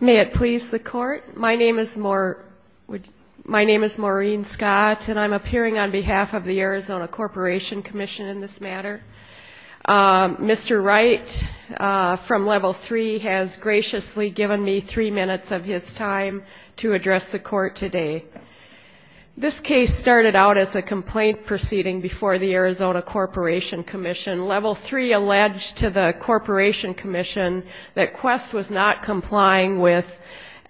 May it please the court. My name is Maureen Scott, and I'm appearing on behalf of the Arizona Corporation Commission in this matter. Mr. Wright from LEVEL 3 has graciously given me three minutes of his time to address the court today. This case started out as a complaint proceeding before the Arizona Corporation Commission. LEVEL 3 alleged to the Corporation Commission that Qwest was not complying with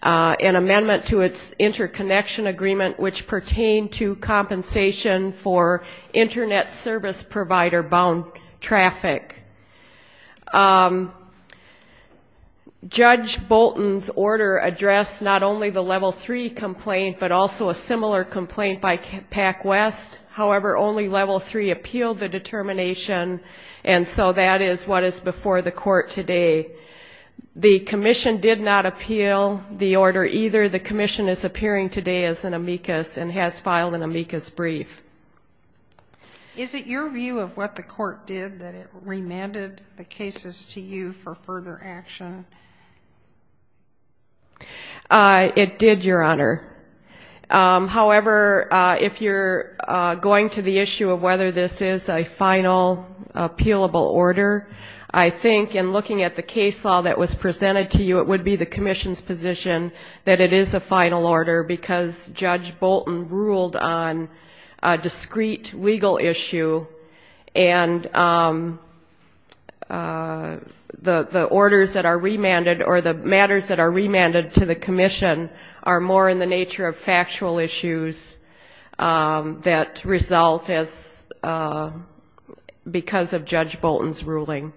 an amendment to its interconnection agreement which pertained to compensation for internet service provider-bound traffic. Judge Bolton's order addressed not only the LEVEL 3 complaint but also a similar complaint by PacWest. However, only LEVEL 3 appealed the determination, and so that is what is before the court today. The Commission did not appeal the order either. The Commission is appearing today as an amicus and has filed an amicus brief. Is it your view of what the court did that it remanded the cases to you for further action? It did, Your Honor. However, if you're going to the issue of whether this is a final, appealable order, I think in looking at the case law that was presented to you, it would be the Commission's position that it is a final order because Judge Bolton ruled on a discreet legal issue, and the orders that are reached by the Commission or the matters that are remanded to the Commission are more in the nature of factual issues that result because of Judge Bolton's ruling.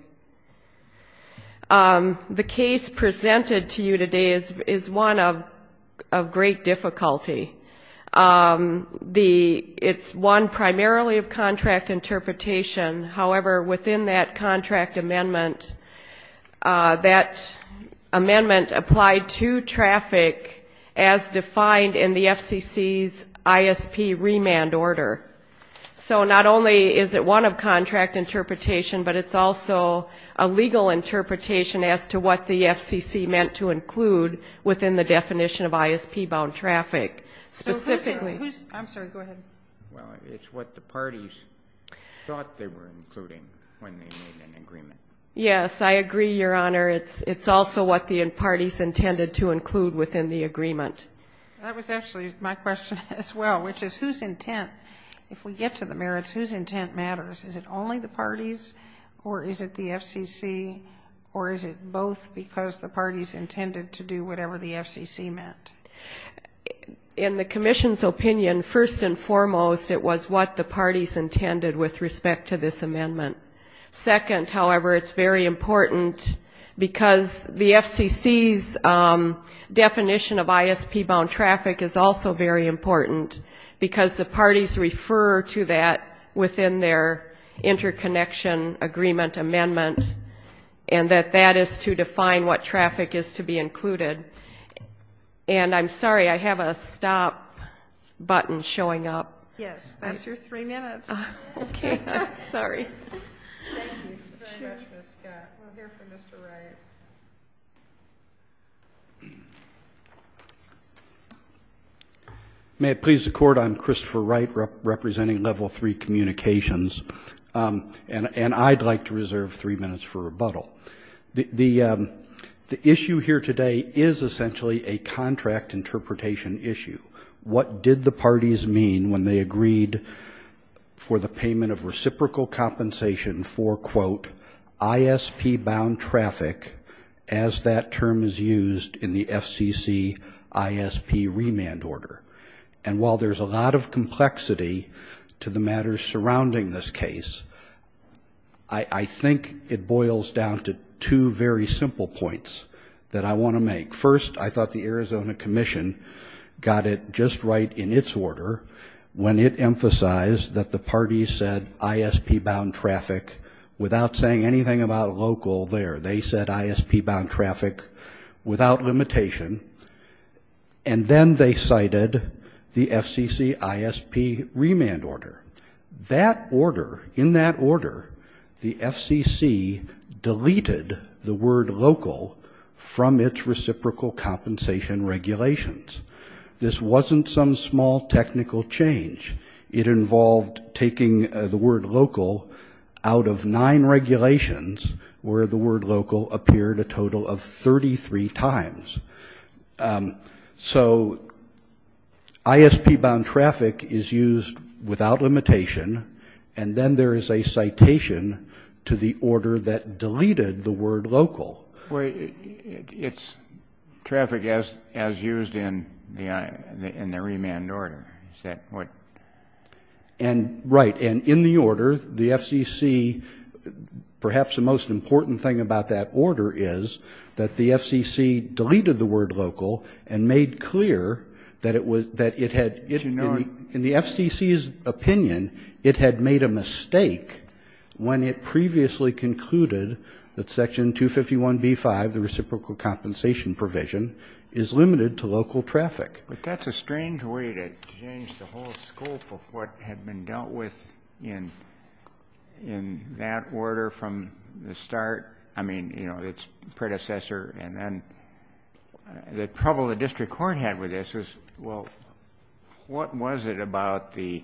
The case presented to you today is one of great difficulty. It's one primarily of contract interpretation. However, within that contract amendment, that amendment applied to traffic as defined in the FCC's ISP remand order. So not only is it one of contract interpretation, but it's also a legal interpretation as to what the FCC meant to include within the definition of ISP-bound traffic, specifically. Well, it's what the parties thought they were including when they made an agreement. Yes, I agree, Your Honor. It's also what the parties intended to include within the agreement. That was actually my question as well, which is whose intent, if we get to the merits, whose intent matters? Is it only the parties, or is it the FCC, or is it both because the parties intended to do whatever the FCC meant? In the Commission's opinion, first and foremost, it was what the parties intended with respect to this amendment. Second, however, it's very important because the FCC's definition of ISP-bound traffic is also very important, because the parties refer to that within their interconnection agreement amendment, and that that is to define what traffic is to be included. And I'm sorry, I have a stop button showing up. Yes, that's your three minutes. Okay, sorry. Thank you very much, Ms. Scott. We'll hear from Mr. Wright. May it please the Court, I'm Christopher Wright, representing Level 3 Communications, and I'd like to reserve three minutes for rebuttal. The issue here today is essentially a contract interpretation issue. What did the parties mean when they agreed for the payment of reciprocal compensation for, quote, ISP-bound traffic as that term is used in the FCC ISP remand order? And while there's a lot of complexity to the matters surrounding this case, I think it boils down to two very simple points that I want to make. First, I thought the Arizona Commission got it just right in its order when it emphasized that the parties said ISP-bound traffic without saying anything about local there. They said ISP-bound traffic without limitation. And then they cited the FCC ISP remand order. That order, in that order, the FCC deleted the word local from its reciprocal compensation regulations. This wasn't some small technical change. It involved taking the word local out of nine regulations where the word local appeared a total of 33 times. So ISP-bound traffic is used without limitation, and then there is a citation to the order that deleted the word local. Well, it's traffic as used in the remand order. Is that what... Right. And in the order, the FCC, perhaps the most important thing about that order is that the FCC deleted the word local, and made clear that it had, in the FCC's opinion, it had made a mistake when it previously concluded that Section 251b-5, the reciprocal compensation provision, is limited to local traffic. But that's a strange way to change the whole scope of what had been dealt with in that order from the start. I mean, you know, its predecessor. And then the trouble the district court had with this was, well, what was it about the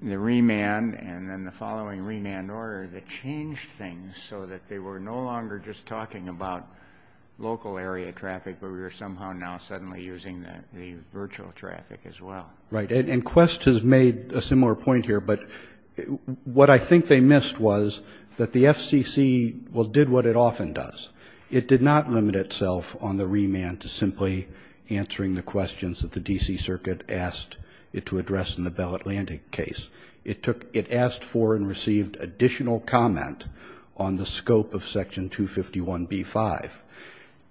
remand and then the following remand order that changed things so that they were no longer just talking about local area traffic, but we were somehow now suddenly using the virtual traffic as well? Right. And Quest has made a similar point here. Well, it did what it often does. It did not limit itself on the remand to simply answering the questions that the D.C. Circuit asked it to address in the Bell Atlantic case. It asked for and received additional comment on the scope of Section 251b-5.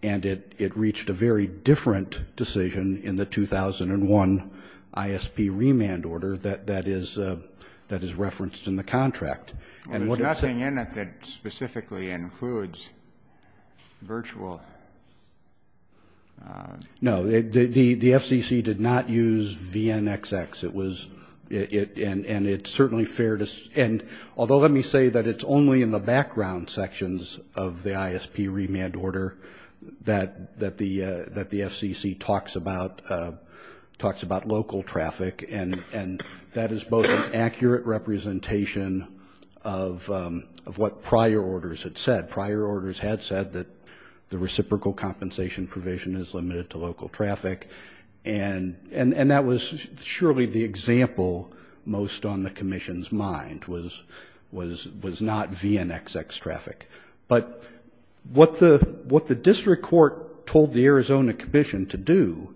And it reached a very different decision in the 2001 ISP remand order that is referenced in the contract. And there's nothing in it that specifically includes virtual... No. The FCC did not use VNXX. And it's certainly fair to... And although let me say that it's only in the background sections of the ISP remand order that the FCC talks about local traffic. And that is both an accurate representation of what prior orders had said. Prior orders had said that the reciprocal compensation provision is limited to local traffic. And that was surely the example most on the Commission's mind, was not VNXX traffic. But what the district court told the Arizona Commission to do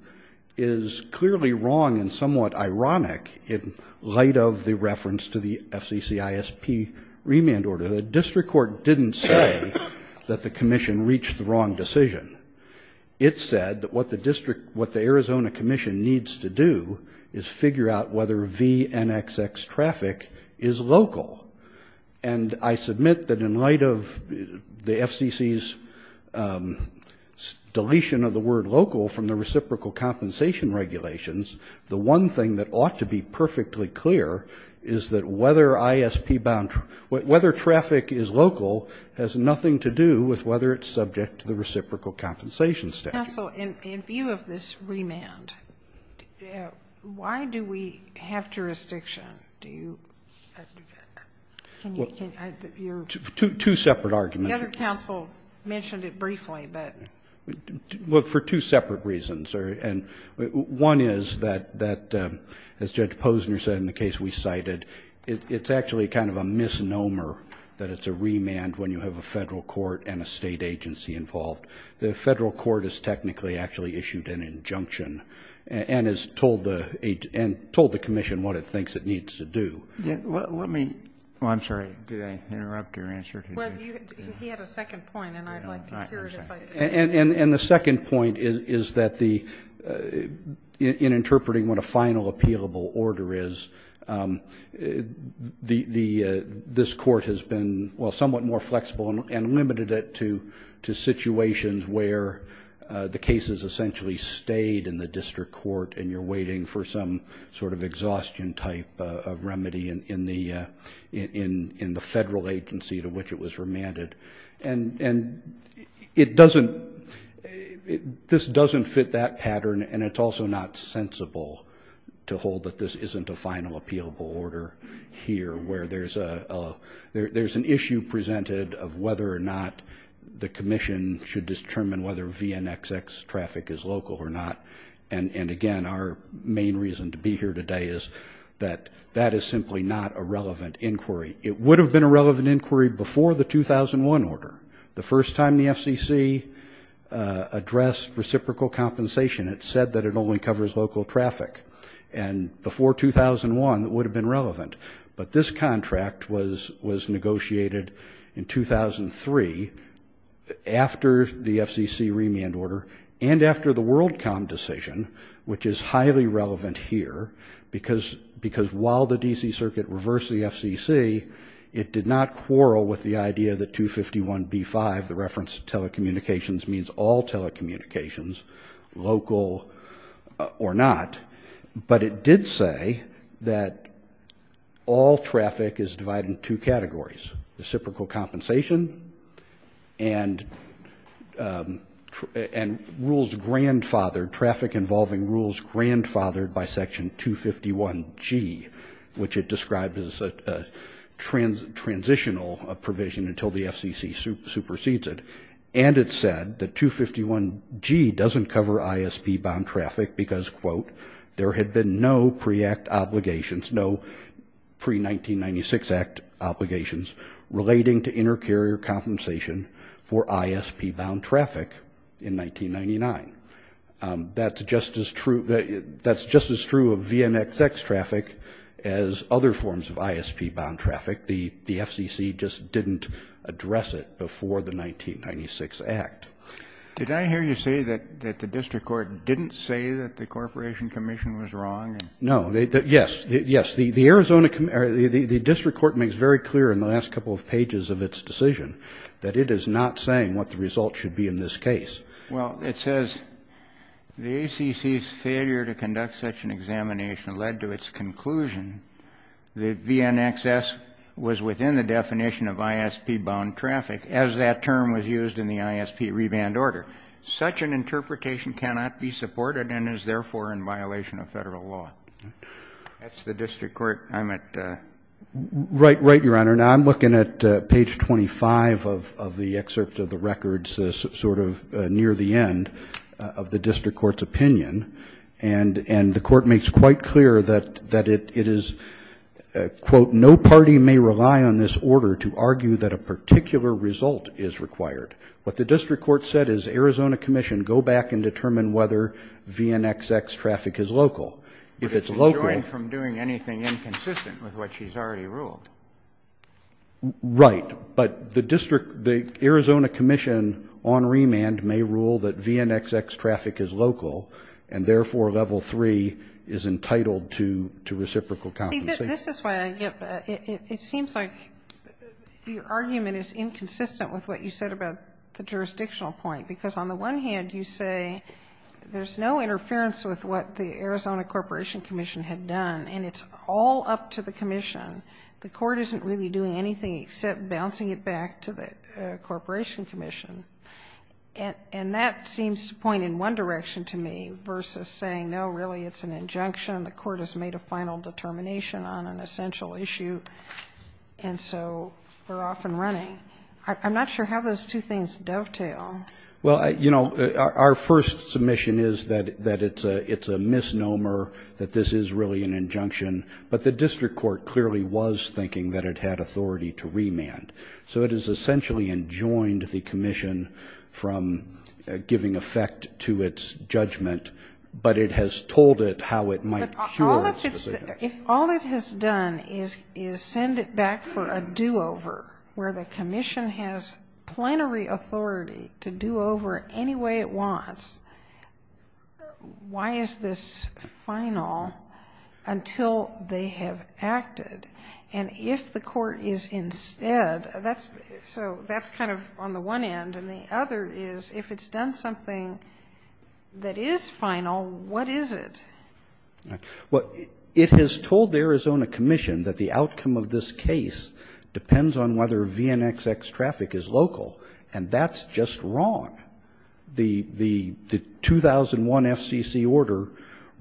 is clearly wrong and somewhat ironic. In light of the reference to the FCC ISP remand order. The district court didn't say that the Commission reached the wrong decision. It said that what the Arizona Commission needs to do is figure out whether VNXX traffic is local. And I submit that in light of the FCC's deletion of the word local from the reciprocal compensation regulations, the one thing that ought to be perfectly clear is that whether ISP bound... Whether traffic is local has nothing to do with whether it's subject to the reciprocal compensation statute. Counsel, in view of this remand, why do we have jurisdiction? Two separate arguments. The other counsel mentioned it briefly, but... Well, for two separate reasons. One is that, as Judge Posner said in the case we cited, it's actually kind of a misnomer that it's a remand when you have a federal court and a state agency involved. The federal court has technically actually issued an injunction and told the Commission what it thinks it needs to do. I'm sorry, did I interrupt your answer? He had a second point, and I'd like to hear it if I could. And the second point is that in interpreting what a final appealable order is, this court has been somewhat more flexible and limited it to situations where the case has essentially stayed in the district court and you're waiting for some sort of exhaustion type of remedy. In the federal agency to which it was remanded. And this doesn't fit that pattern, and it's also not sensible to hold that this isn't a final appealable order here, where there's an issue presented of whether or not the Commission should determine whether VNXX traffic is local or not. And, again, our main reason to be here today is that that is simply not a relevant inquiry. It would have been a relevant inquiry before the 2001 order. The first time the FCC addressed reciprocal compensation, it said that it only covers local traffic. And before 2001, it would have been relevant. But this contract was negotiated in 2003, after the FCC remand order, and after the WorldCom decision. Which is highly relevant here, because while the D.C. circuit reversed the FCC, it did not quarrel with the idea that 251b-5, the reference to telecommunications, means all telecommunications, local or not. But it did say that all traffic is divided into two categories. Reciprocal compensation and rules grandfathered, traffic that is local or not. Traffic involving rules grandfathered by section 251g, which it described as a transitional provision until the FCC supersedes it. And it said that 251g doesn't cover ISP-bound traffic because, quote, there had been no pre-1996 act obligations relating to inter-carrier compensation for ISP-bound traffic in 1999. That's just as true of VNXX traffic as other forms of ISP-bound traffic. The FCC just didn't address it before the 1996 act. Did I hear you say that the district court didn't say that the corporation commission was wrong? No. Yes. The district court makes very clear in the last couple of pages of its decision that it is not saying what the result should be in this case. Well, it says, the ACC's failure to conduct such an examination led to its conclusion that VNXX was within the definition of ISP-bound traffic, as that term was used in the ISP revamped order. Such an interpretation cannot be supported and is therefore in violation of federal law. That's the district court I'm at. Right, Your Honor. Now I'm looking at page 25 of the excerpt of the records, sort of near the end of the district court's opinion, and the court makes quite clear that it is, quote, no party may rely on this order to argue that a particular result is required. What the district court said is Arizona Commission go back and determine whether VNXX traffic is local. If it's local. Right, but the district, the Arizona Commission on remand may rule that VNXX traffic is local, and therefore level 3 is entitled to reciprocal compensation. See, this is why I get, it seems like your argument is inconsistent with what you said about the jurisdictional point, because on the one hand you say there's no interference with what the Arizona Corporation Commission had done, and it's all up to the commission. The court isn't really doing anything except bouncing it back to the Corporation Commission. And that seems to point in one direction to me versus saying, no, really, it's an injunction, the court has made a final determination on an essential issue, and so we're off and running. I'm not sure how those two things dovetail. Well, you know, our first submission is that it's a misnomer, that this is really an injunction, but the district court clearly was thinking that it had authority to remand. So it has essentially enjoined the commission from giving effect to its judgment, but it has told it how it might cure the situation. All it has done is send it back for a do-over, where the commission has plenary authority to make a decision. It has told the Arizona Commission to do over any way it wants, why is this final until they have acted? And if the court is instead, so that's kind of on the one end, and the other is, if it's done something that is final, what is it? Well, it has told the Arizona Commission that the outcome of this case depends on whether VNXX traffic is local, and that's just wrong. The 2001 FCC order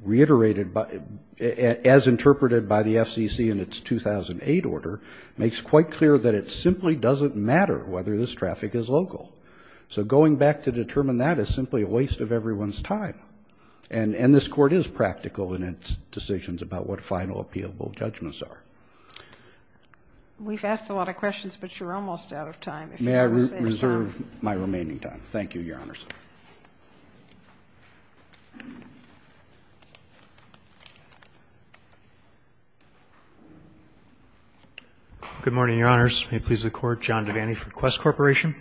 reiterated, as interpreted by the FCC in its 2008 order, makes quite clear that it simply doesn't matter whether this traffic is local. So going back to determine that is simply a waste of everyone's time. And this Court is practical in its decisions about what final appealable judgments are. We've asked a lot of questions, but you're almost out of time. May I reserve my remaining time? Thank you, Your Honors. Good morning, Your Honors. May it please the Court. John Devaney for Quest Corporation.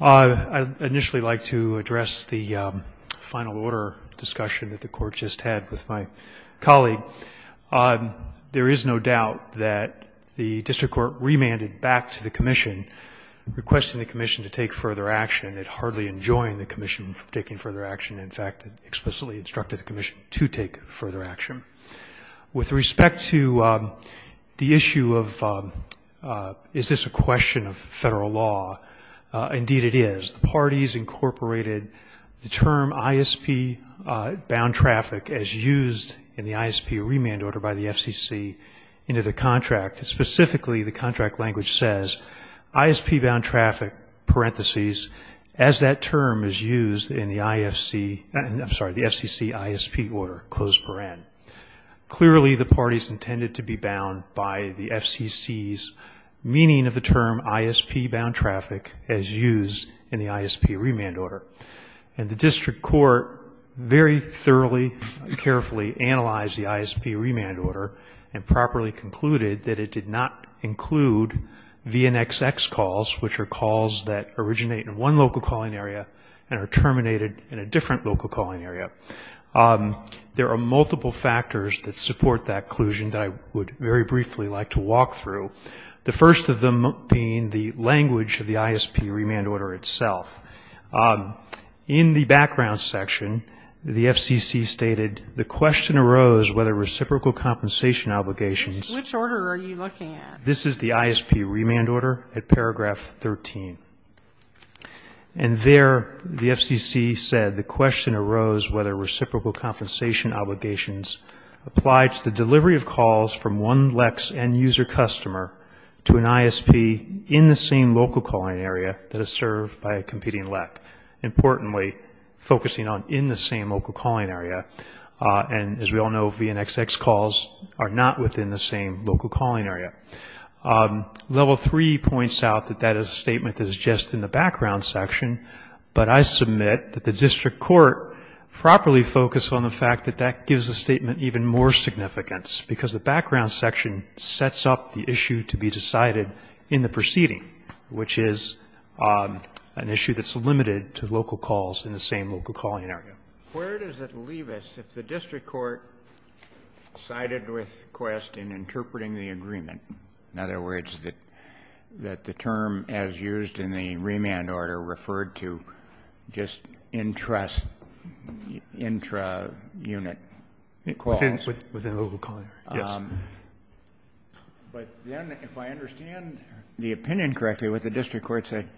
I'd initially like to address the final order discussion that the Court just had with my colleague. Well, there is no doubt that the District Court remanded back to the Commission, requesting the Commission to take further action. It hardly enjoined the Commission from taking further action. In fact, it explicitly instructed the Commission to take further action. With respect to the issue of is this a question of federal law, indeed it is. The parties incorporated the term ISP-bound traffic as used in the ISP order. And the District Court very thoroughly, carefully analyzed the ISP-bound traffic as used in the ISP remand order. And properly concluded that it did not include VNXX calls, which are calls that originate in one local calling area and are terminated in a different local calling area. There are multiple factors that support that conclusion that I would very briefly like to walk through. The first of them being the language of the ISP remand order itself. In the background section, the FCC stated, the question arose whether receiving the ISP remand order in the reciprocal compensation obligations. Which order are you looking at? This is the ISP remand order at paragraph 13. And there, the FCC said, the question arose whether reciprocal compensation obligations apply to the delivery of calls from one LEC's end-user customer to an ISP in the same local calling area that is served by a competing LEC. Importantly, focusing on in the same local calling area. And as we all know, VNXX calls are used in the ISP remand order. VNXX calls are not within the same local calling area. Level 3 points out that that is a statement that is just in the background section. But I submit that the district court properly focused on the fact that that gives the statement even more significance, because the background section sets up the issue to be decided in the proceeding, which is an issue that's limited to local calls in the same local calling area. Where does it leave us if the district court sided with Quest in interpreting the agreement? In other words, that the term, as used in the remand order, referred to just intra-unit calls? Within local calling area, yes. But then, if I understand the opinion correctly, what the district court said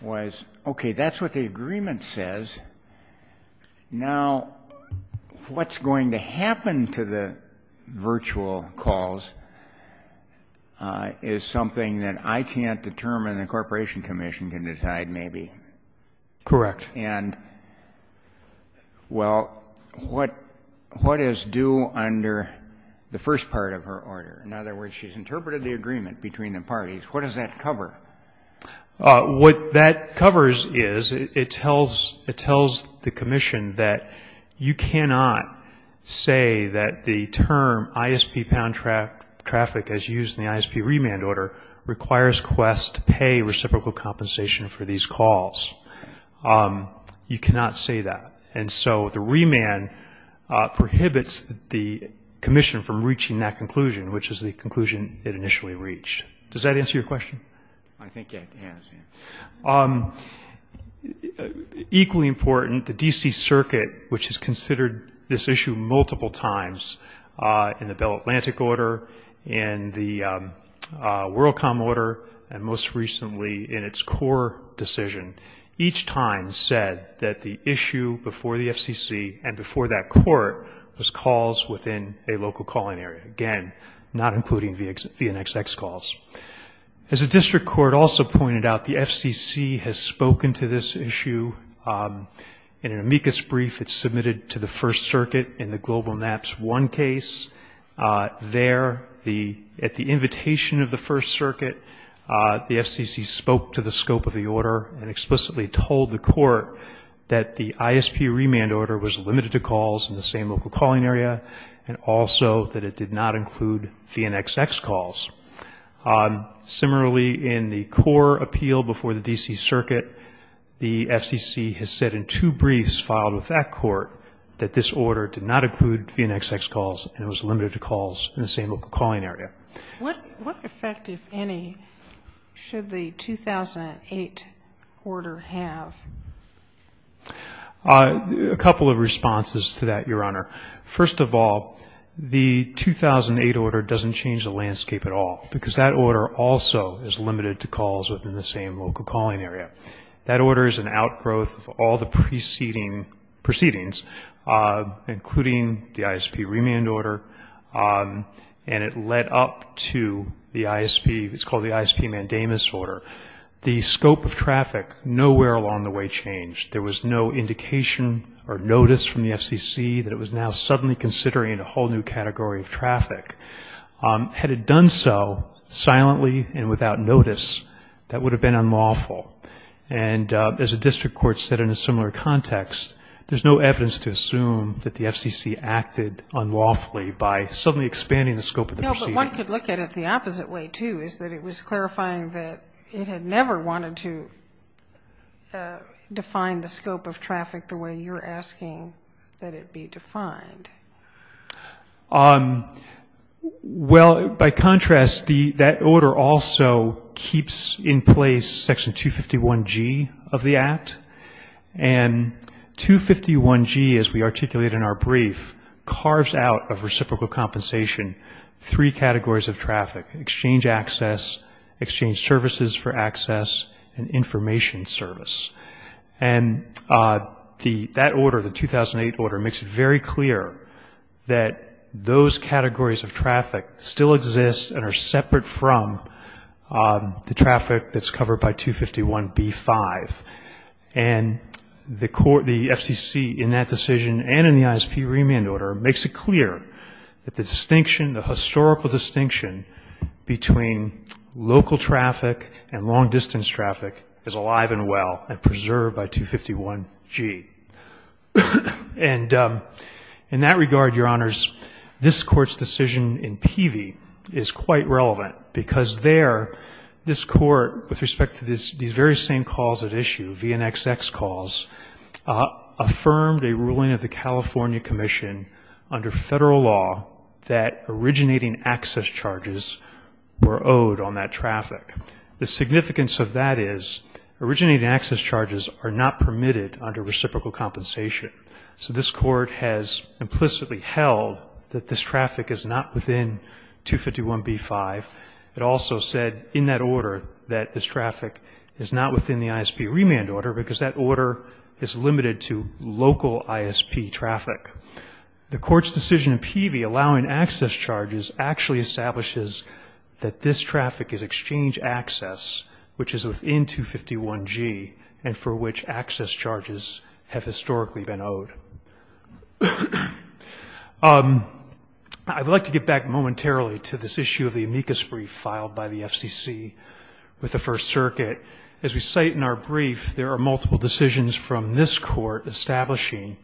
was, okay, that's what the agreement says. Now, what's going to happen to the virtual calls is something that I can't determine, the Corporation Commission can decide, maybe. Correct. And, well, what is due under the first part of her order? In other words, she's interpreted the agreement between the parties. What does that cover? What that covers is it tells the Commission that you cannot say that the term ISP pound traffic, as used in the ISP remand order, requires Quest to pay reciprocal compensation for these calls. You cannot say that. And so the remand prohibits the Commission from reaching that conclusion, which is the conclusion that the Commission has reached. Equally important, the D.C. Circuit, which has considered this issue multiple times in the Bell Atlantic order, in the WorldCom order, and most recently in its core decision, each time said that the issue before the FCC and before that court was calls within a local calling area, again, not included. The court also pointed out the FCC has spoken to this issue. In an amicus brief, it's submitted to the First Circuit in the Global NAPPS I case. There, at the invitation of the First Circuit, the FCC spoke to the scope of the order and explicitly told the court that the ISP remand order was limited to calls in the same local calling area, and also that it did not include VNXX calls. Similarly, in the core appeal before the D.C. Circuit, the FCC has said in two briefs filed with that court that this order did not include VNXX calls, and it was limited to calls in the same local calling area. What effect, if any, should the 2008 order have? A couple of responses to that, Your Honor. First of all, the 2008 order doesn't change the landscape at all. It's a limited to calls within the same local calling area. That order is an outgrowth of all the preceding proceedings, including the ISP remand order, and it led up to the ISP, it's called the ISP mandamus order. The scope of traffic nowhere along the way changed. There was no indication or notice from the FCC that it was now suddenly considering a whole new category of traffic. Had it done so silently and without notice, that would have been unlawful. And as a district court said in a similar context, there's no evidence to assume that the FCC acted unlawfully by suddenly expanding the scope of the proceeding. No, but one could look at it the opposite way, too, is that it was clarifying that it had never wanted to define the scope of traffic the way you're asking that it be defined. Well, by contrast, that order also keeps in place Section 251G of the Act, and 251G, as we articulate in our brief, carves out of reciprocal compensation three categories of traffic, exchange access, exchange services for access, and information service. And that order, the 2008 order, makes it very clear that those categories of traffic still exist and are separate from the traffic that's covered by 251B-5. And the FCC, in that decision and in the ISP remand order, makes it clear that the distinction, the historical distinction between local traffic and long-distance traffic is alive and well and pretty much preserved by 251G. And in that regard, Your Honors, this Court's decision in Peavey is quite relevant, because there, this Court, with respect to these very same calls at issue, V and XX calls, affirmed a ruling of the California Commission under federal law that originating access charges were owed on that traffic. The significance of that is originating access charges are owed on that traffic, and originating access charges are not permitted under reciprocal compensation. So this Court has implicitly held that this traffic is not within 251B-5. It also said in that order that this traffic is not within the ISP remand order, because that order is limited to local ISP traffic. The Court's decision in Peavey allowing access charges actually establishes that this traffic is exchange access, which is within 251G and for which access charges have historically been owed. I would like to get back momentarily to this issue of the amicus brief filed by the FCC with the First Circuit. As we cite in our brief, there are multiple decisions from this Court establishing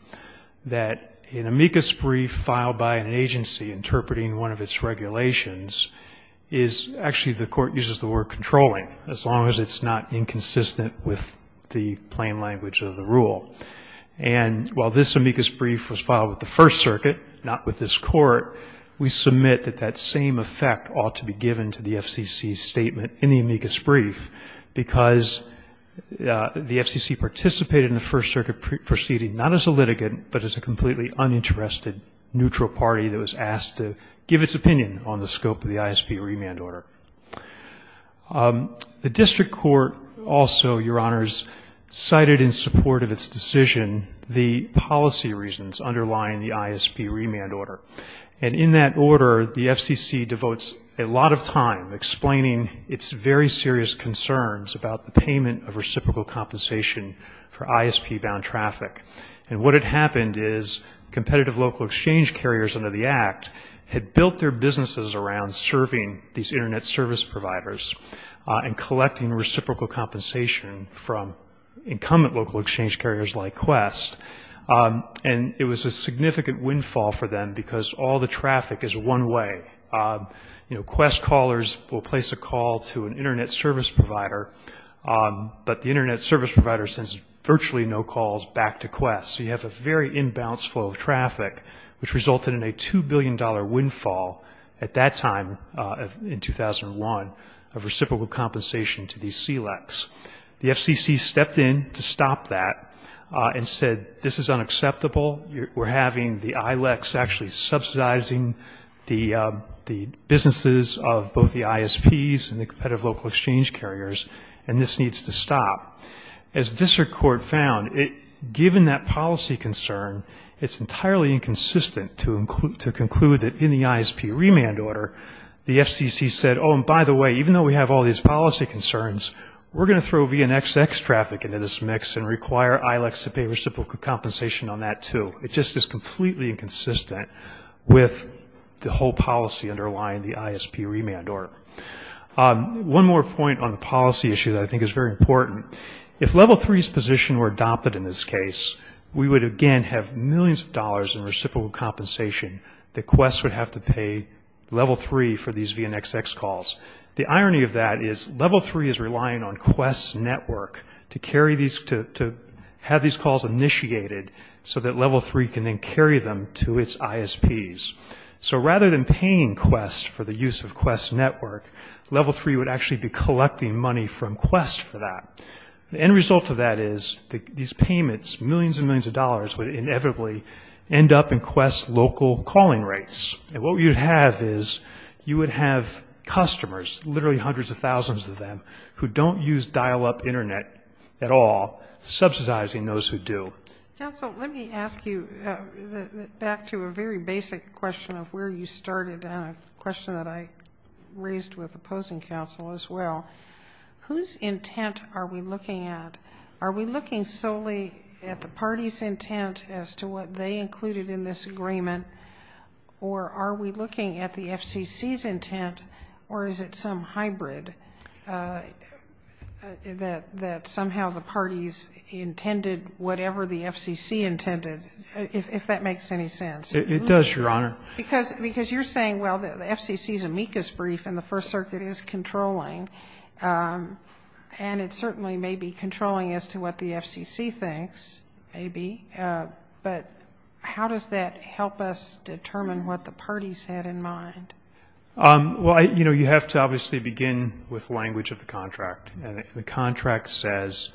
that an amicus brief filed by an agency interpreting one of its regulations is, actually the Court uses the word controlling, as long as it's not a inconsistent with the plain language of the rule. And while this amicus brief was filed with the First Circuit, not with this Court, we submit that that same effect ought to be given to the FCC's statement in the amicus brief, because the FCC participated in the First Circuit proceeding not as a litigant, but as a completely uninterested neutral party that was asked to give its opinion on the scope of the ISP remand order. The District Court also, Your Honors, cited in support of its decision the policy reasons underlying the ISP remand order. And in that order, the FCC devotes a lot of time explaining its very serious concerns about the payment of reciprocal compensation for ISP-bound traffic. And what had happened is competitive local exchange carriers under the Act had built their businesses around serving these Internet service providers and collecting reciprocal compensation from incumbent local exchange carriers like Quest. And it was a significant windfall for them, because all the traffic is one way. You know, Quest callers will place a call to an Internet service provider, but the Internet service provider sends virtually no calls back to Quest. So you have a very inbounce flow of traffic, which resulted in a $2 billion windfall of traffic. At that time, in 2001, of reciprocal compensation to these CLECs. The FCC stepped in to stop that and said, this is unacceptable. We're having the ILECs actually subsidizing the businesses of both the ISPs and the competitive local exchange carriers, and this needs to stop. As the District Court found, given that policy concern, it's entirely inconsistent to conclude that any ISP remand order, the FCC said, oh, and by the way, even though we have all these policy concerns, we're going to throw VNXX traffic into this mix and require ILECs to pay reciprocal compensation on that, too. It just is completely inconsistent with the whole policy underlying the ISP remand order. One more point on the policy issue that I think is very important. If Level 3's position were adopted in this case, we would again have millions of dollars in reciprocal compensation that Quest would have to pay Level 3 for these VNXX calls. The irony of that is Level 3 is relying on Quest's network to carry these, to have these calls initiated so that Level 3 can then carry them to its ISPs. So rather than paying Quest for the use of Quest's network, Level 3 would actually be collecting money from Quest for that. The end result of that is these payments, millions and millions of dollars, would inevitably end up in Quest's local calling rates. And what we would have is you would have customers, literally hundreds of thousands of them, who don't use dial-up Internet at all, subsidizing those who do. Dr. Nancy Cox. Counsel, let me ask you, back to a very basic question of where you started, and a question that I raised with opposing counsel as well. Whose intent are we looking at? Are we looking solely at the party's intent to what they included in this agreement, or are we looking at the FCC's intent, or is it some hybrid that somehow the parties intended whatever the FCC intended, if that makes any sense? It does, Your Honor. Because you're saying, well, the FCC's amicus brief in the First Circuit is controlling, and it certainly may be controlling but how does that help us determine what the parties had in mind? Well, you know, you have to obviously begin with language of the contract. The contract says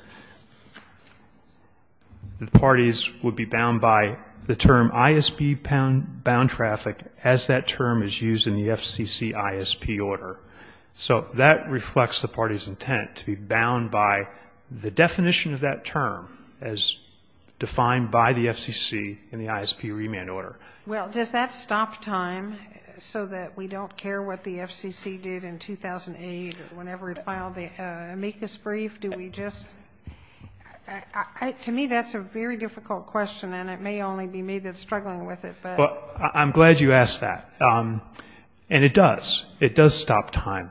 the parties would be bound by the term ISP bound traffic as that term is used in the FCC ISP order. So that reflects the party's intent to be bound by the definition of that term as defined by the FCC in the ISP remand order. Well, does that stop time so that we don't care what the FCC did in 2008 or whenever it filed the amicus brief? Do we just... To me, that's a very difficult question, and it may only be me that's struggling with it, but... Well, I'm glad you asked that. And it does. It does stop time.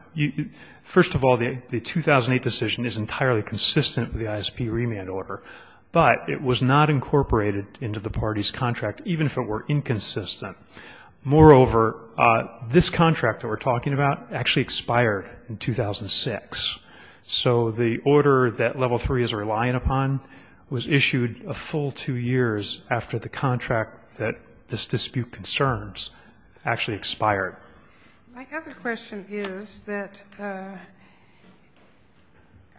First of all, the 2008 decision is entirely consistent with the ISP remand order, but it was not incorporated into the party's contract, even if it were inconsistent. Moreover, this contract that we're talking about actually expired in 2006. So the order that Level 3 is relying upon was issued a full two years after the contract that this dispute concerns actually expired. My other question is that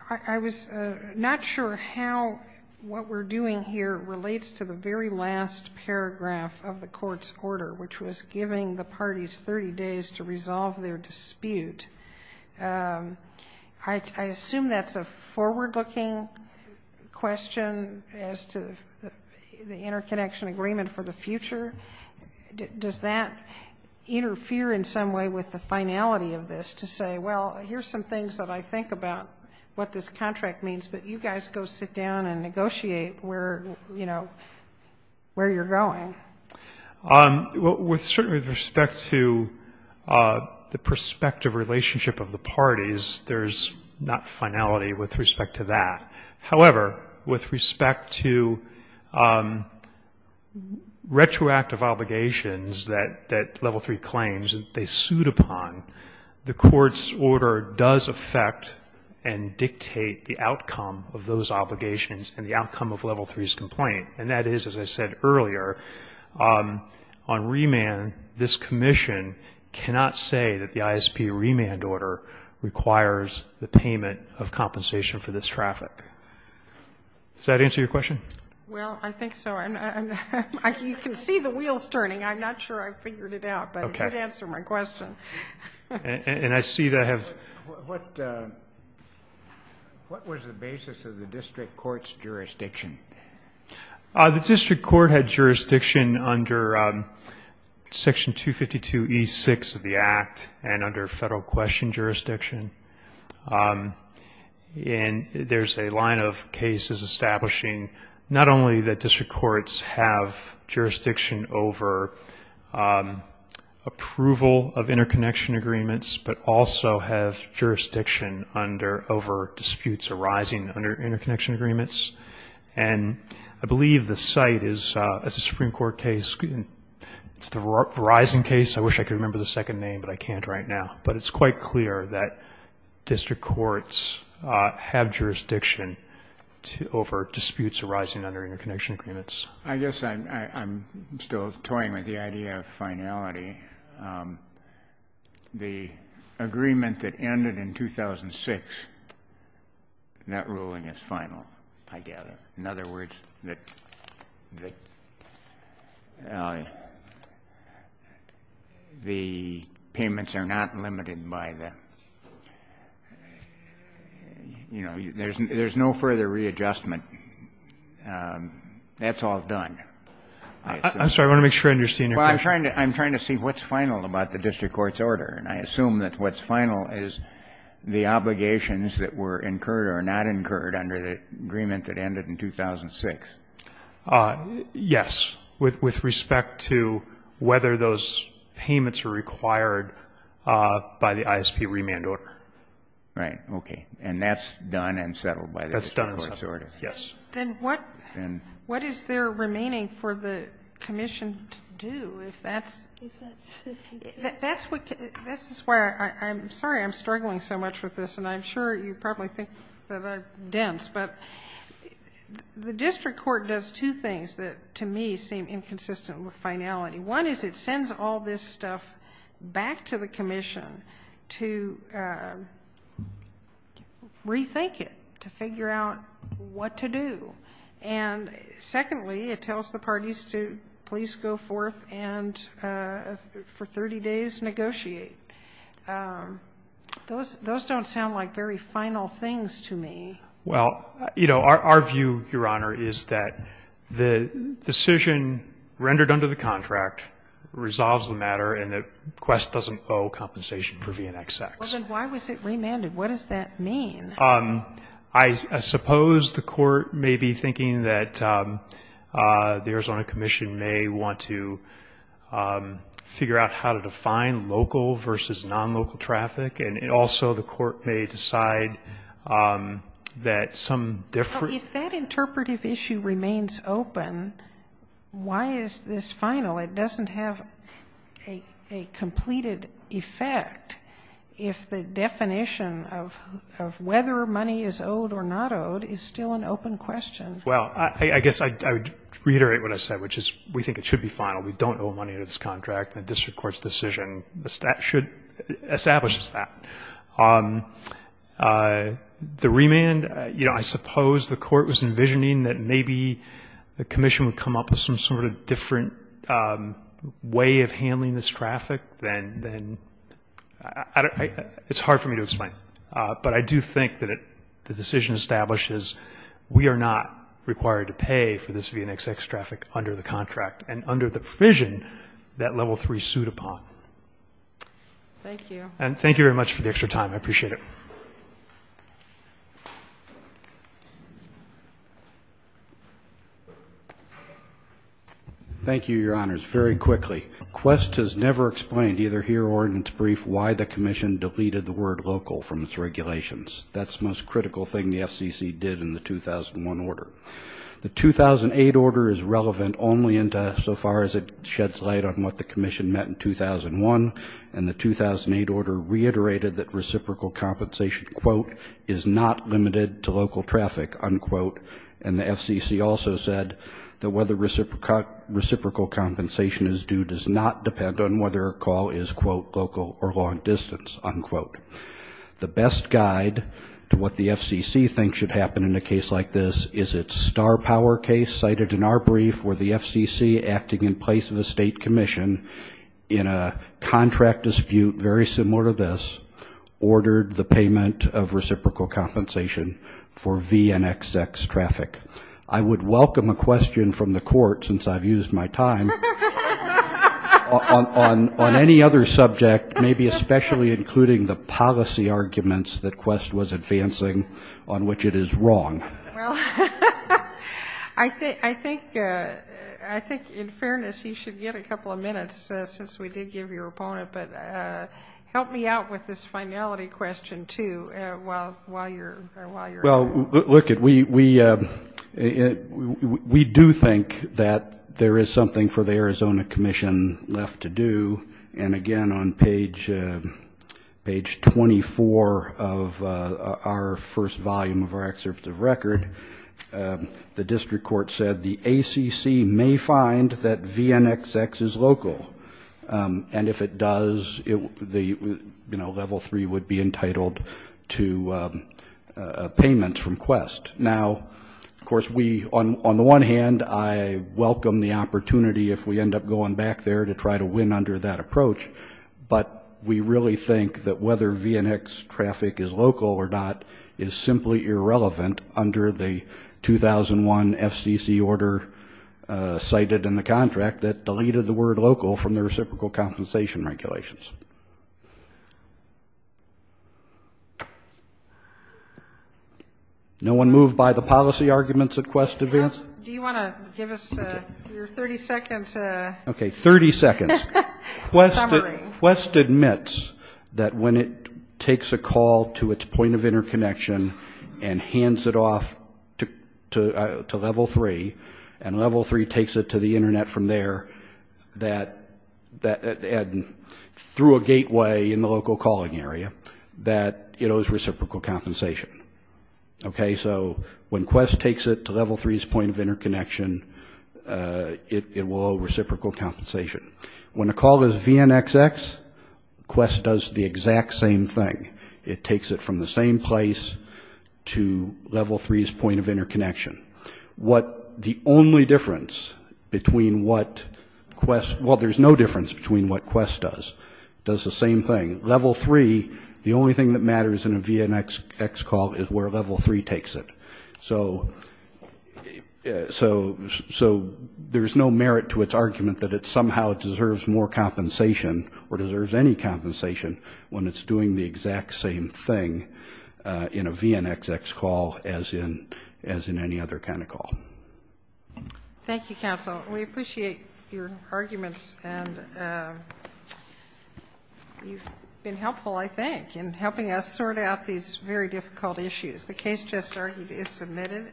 I was not sure how what we're doing here relates to the very last paragraph of the court's order, which was giving the parties 30 days to resolve their dispute. I assume that's a forward-looking question as to the interconnection agreement for the future. Does that interfere in some way with the finality of this, to say, well, here's some things that I think about what this contract means, but you guys go sit down and negotiate where, you know, where you're going? Well, certainly with respect to the prospective relationship of the parties, there's not finality with respect to that. However, with respect to retroactive obligations that Level 3 claims they sued upon, the court's order does affect and dictate the outcome of those obligations and the outcome of Level 3's complaint. And that is, as I said earlier, on remand, this commission cannot say that the ISP remand order requires the payment of compensation for this traffic. Does that answer your question? Well, I think so. You can see the wheels turning. I'm not sure I figured it out, but it did answer my question. What was the basis of the district court's jurisdiction? The district court had jurisdiction under Section 252 E6 of the Act and under federal question jurisdiction. And there's a line of cases establishing not only that district courts have jurisdiction over approval of interconnection agreements, but also have jurisdiction over disputes arising under interconnection agreements. And I believe the site is, as a Supreme Court case, it's the Verizon case. I wish I could remember the second name, but I can't right now. But it's quite clear that district courts have jurisdiction over disputes arising under interconnection agreements. I guess I'm still toying with the idea of finality. The agreement that ended in 2006, that ruling is final, I gather. In other words, the payments are not limited to the district courts. They're not limited by the, you know, there's no further readjustment. That's all done. I'm sorry, I want to make sure I understand your question. Well, I'm trying to see what's final about the district court's order. And I assume that what's final is the obligations that were incurred or not incurred under the agreement that ended in 2006. Yes, with respect to whether those payments are required by the ISP remand order. Right, okay. And that's done and settled by the district court's order? That's done and settled, yes. Then what is there remaining for the commission to do if that's, that's what, this is why I'm, sorry, I'm struggling so much with this, and I'm sure you probably think that I'm dense, but the district court does two things that to me seem inconsistent with finality. One is it sends all this stuff back to the commission to rethink it, to figure out what to do. And secondly, it tells the parties to please go forth and for 30 days negotiate. Those, those don't sound like very final things to me. Well, you know, our view, Your Honor, is that the decision rendered under the contract resolves the matter and that Quest doesn't owe compensation for VNXX. Well, then why was it remanded? What does that mean? I suppose the court may be thinking that the Arizona Commission may want to figure out how to define local versus regional. Local versus non-local traffic, and also the court may decide that some different... If that interpretive issue remains open, why is this final? It doesn't have a completed effect if the definition of whether money is owed or not owed is still an open question. Well, I guess I would reiterate what I said, which is we think it should be final. We don't owe money under this contract, and the district court's decision establishes that. The remand, I suppose the court was envisioning that maybe the commission would come up with some sort of different way of handling this traffic. It's hard for me to explain, but I do think that the decision establishes we are not required to pay for this VNXX traffic under the contract. And under the provision that Level 3 sued upon. And thank you very much for the extra time. I appreciate it. Thank you, Your Honors. Very quickly, Quest has never explained, either here or in its brief, why the commission deleted the word local from its regulations. That's the most critical thing the FCC did in the 2001 order. The 2008 order is relevant only in so far as it sheds light on what the commission meant in 2001. And the 2008 order reiterated that reciprocal compensation, quote, is not limited to local traffic, unquote. And the FCC also said that whether reciprocal compensation is due does not depend on whether a call is, quote, local or long distance, unquote. The best guide to what the FCC thinks should happen in a case like this is its Star Power case, cited in our brief, where the FCC, acting in place of a state commission, in a contract dispute very similar to this, ordered the payment of reciprocal compensation for VNXX traffic. I would welcome a question from the court, since I've used my time, on any other subject, maybe especially including the public. I would like to know if there are any policy arguments that Quest was advancing on which it is wrong. Well, I think, in fairness, you should get a couple of minutes, since we did give your opponent, but help me out with this finality question, too, while you're at it. Well, look, we do think that there is something for the Arizona commission left to do, and again, on page 12, we do think that there is something for the Arizona commission left to do. In page 24 of our first volume of our excerpt of record, the district court said, the ACC may find that VNXX is local, and if it does, level 3 would be entitled to payments from Quest. Now, of course, on the one hand, I welcome the opportunity, if we end up going back there, to try to win under that approach, but we really think that whether VNXX is local or not, is a matter of the court's discretion. And we think that whether VNXX traffic is local or not, is simply irrelevant under the 2001 FCC order cited in the contract that deleted the word local from the reciprocal compensation regulations. No one moved by the policy arguments that Quest advanced? Do you want to give us your 30-second summary? Okay, so when Quest takes a call to its point of interconnection and hands it off to level 3, and level 3 takes it to the internet from there, and through a gateway in the local calling area, that it owes reciprocal compensation. Okay, so when Quest takes it to level 3's point of interconnection, it will owe reciprocal compensation. When a call is VNXX, Quest does the exact same thing. It takes it from the same place to level 3's point of interconnection. What the only difference between what Quest, well, there's no difference between what Quest does. It does the same thing. Level 3, the only thing that matters in a VNXX call is where level 3 takes it. So it deserves more compensation, or deserves any compensation, when it's doing the exact same thing in a VNXX call as in any other kind of call. Thank you, counsel. We appreciate your arguments, and you've been helpful, I think, in helping us sort out these very difficult issues. The case just argued is submitted.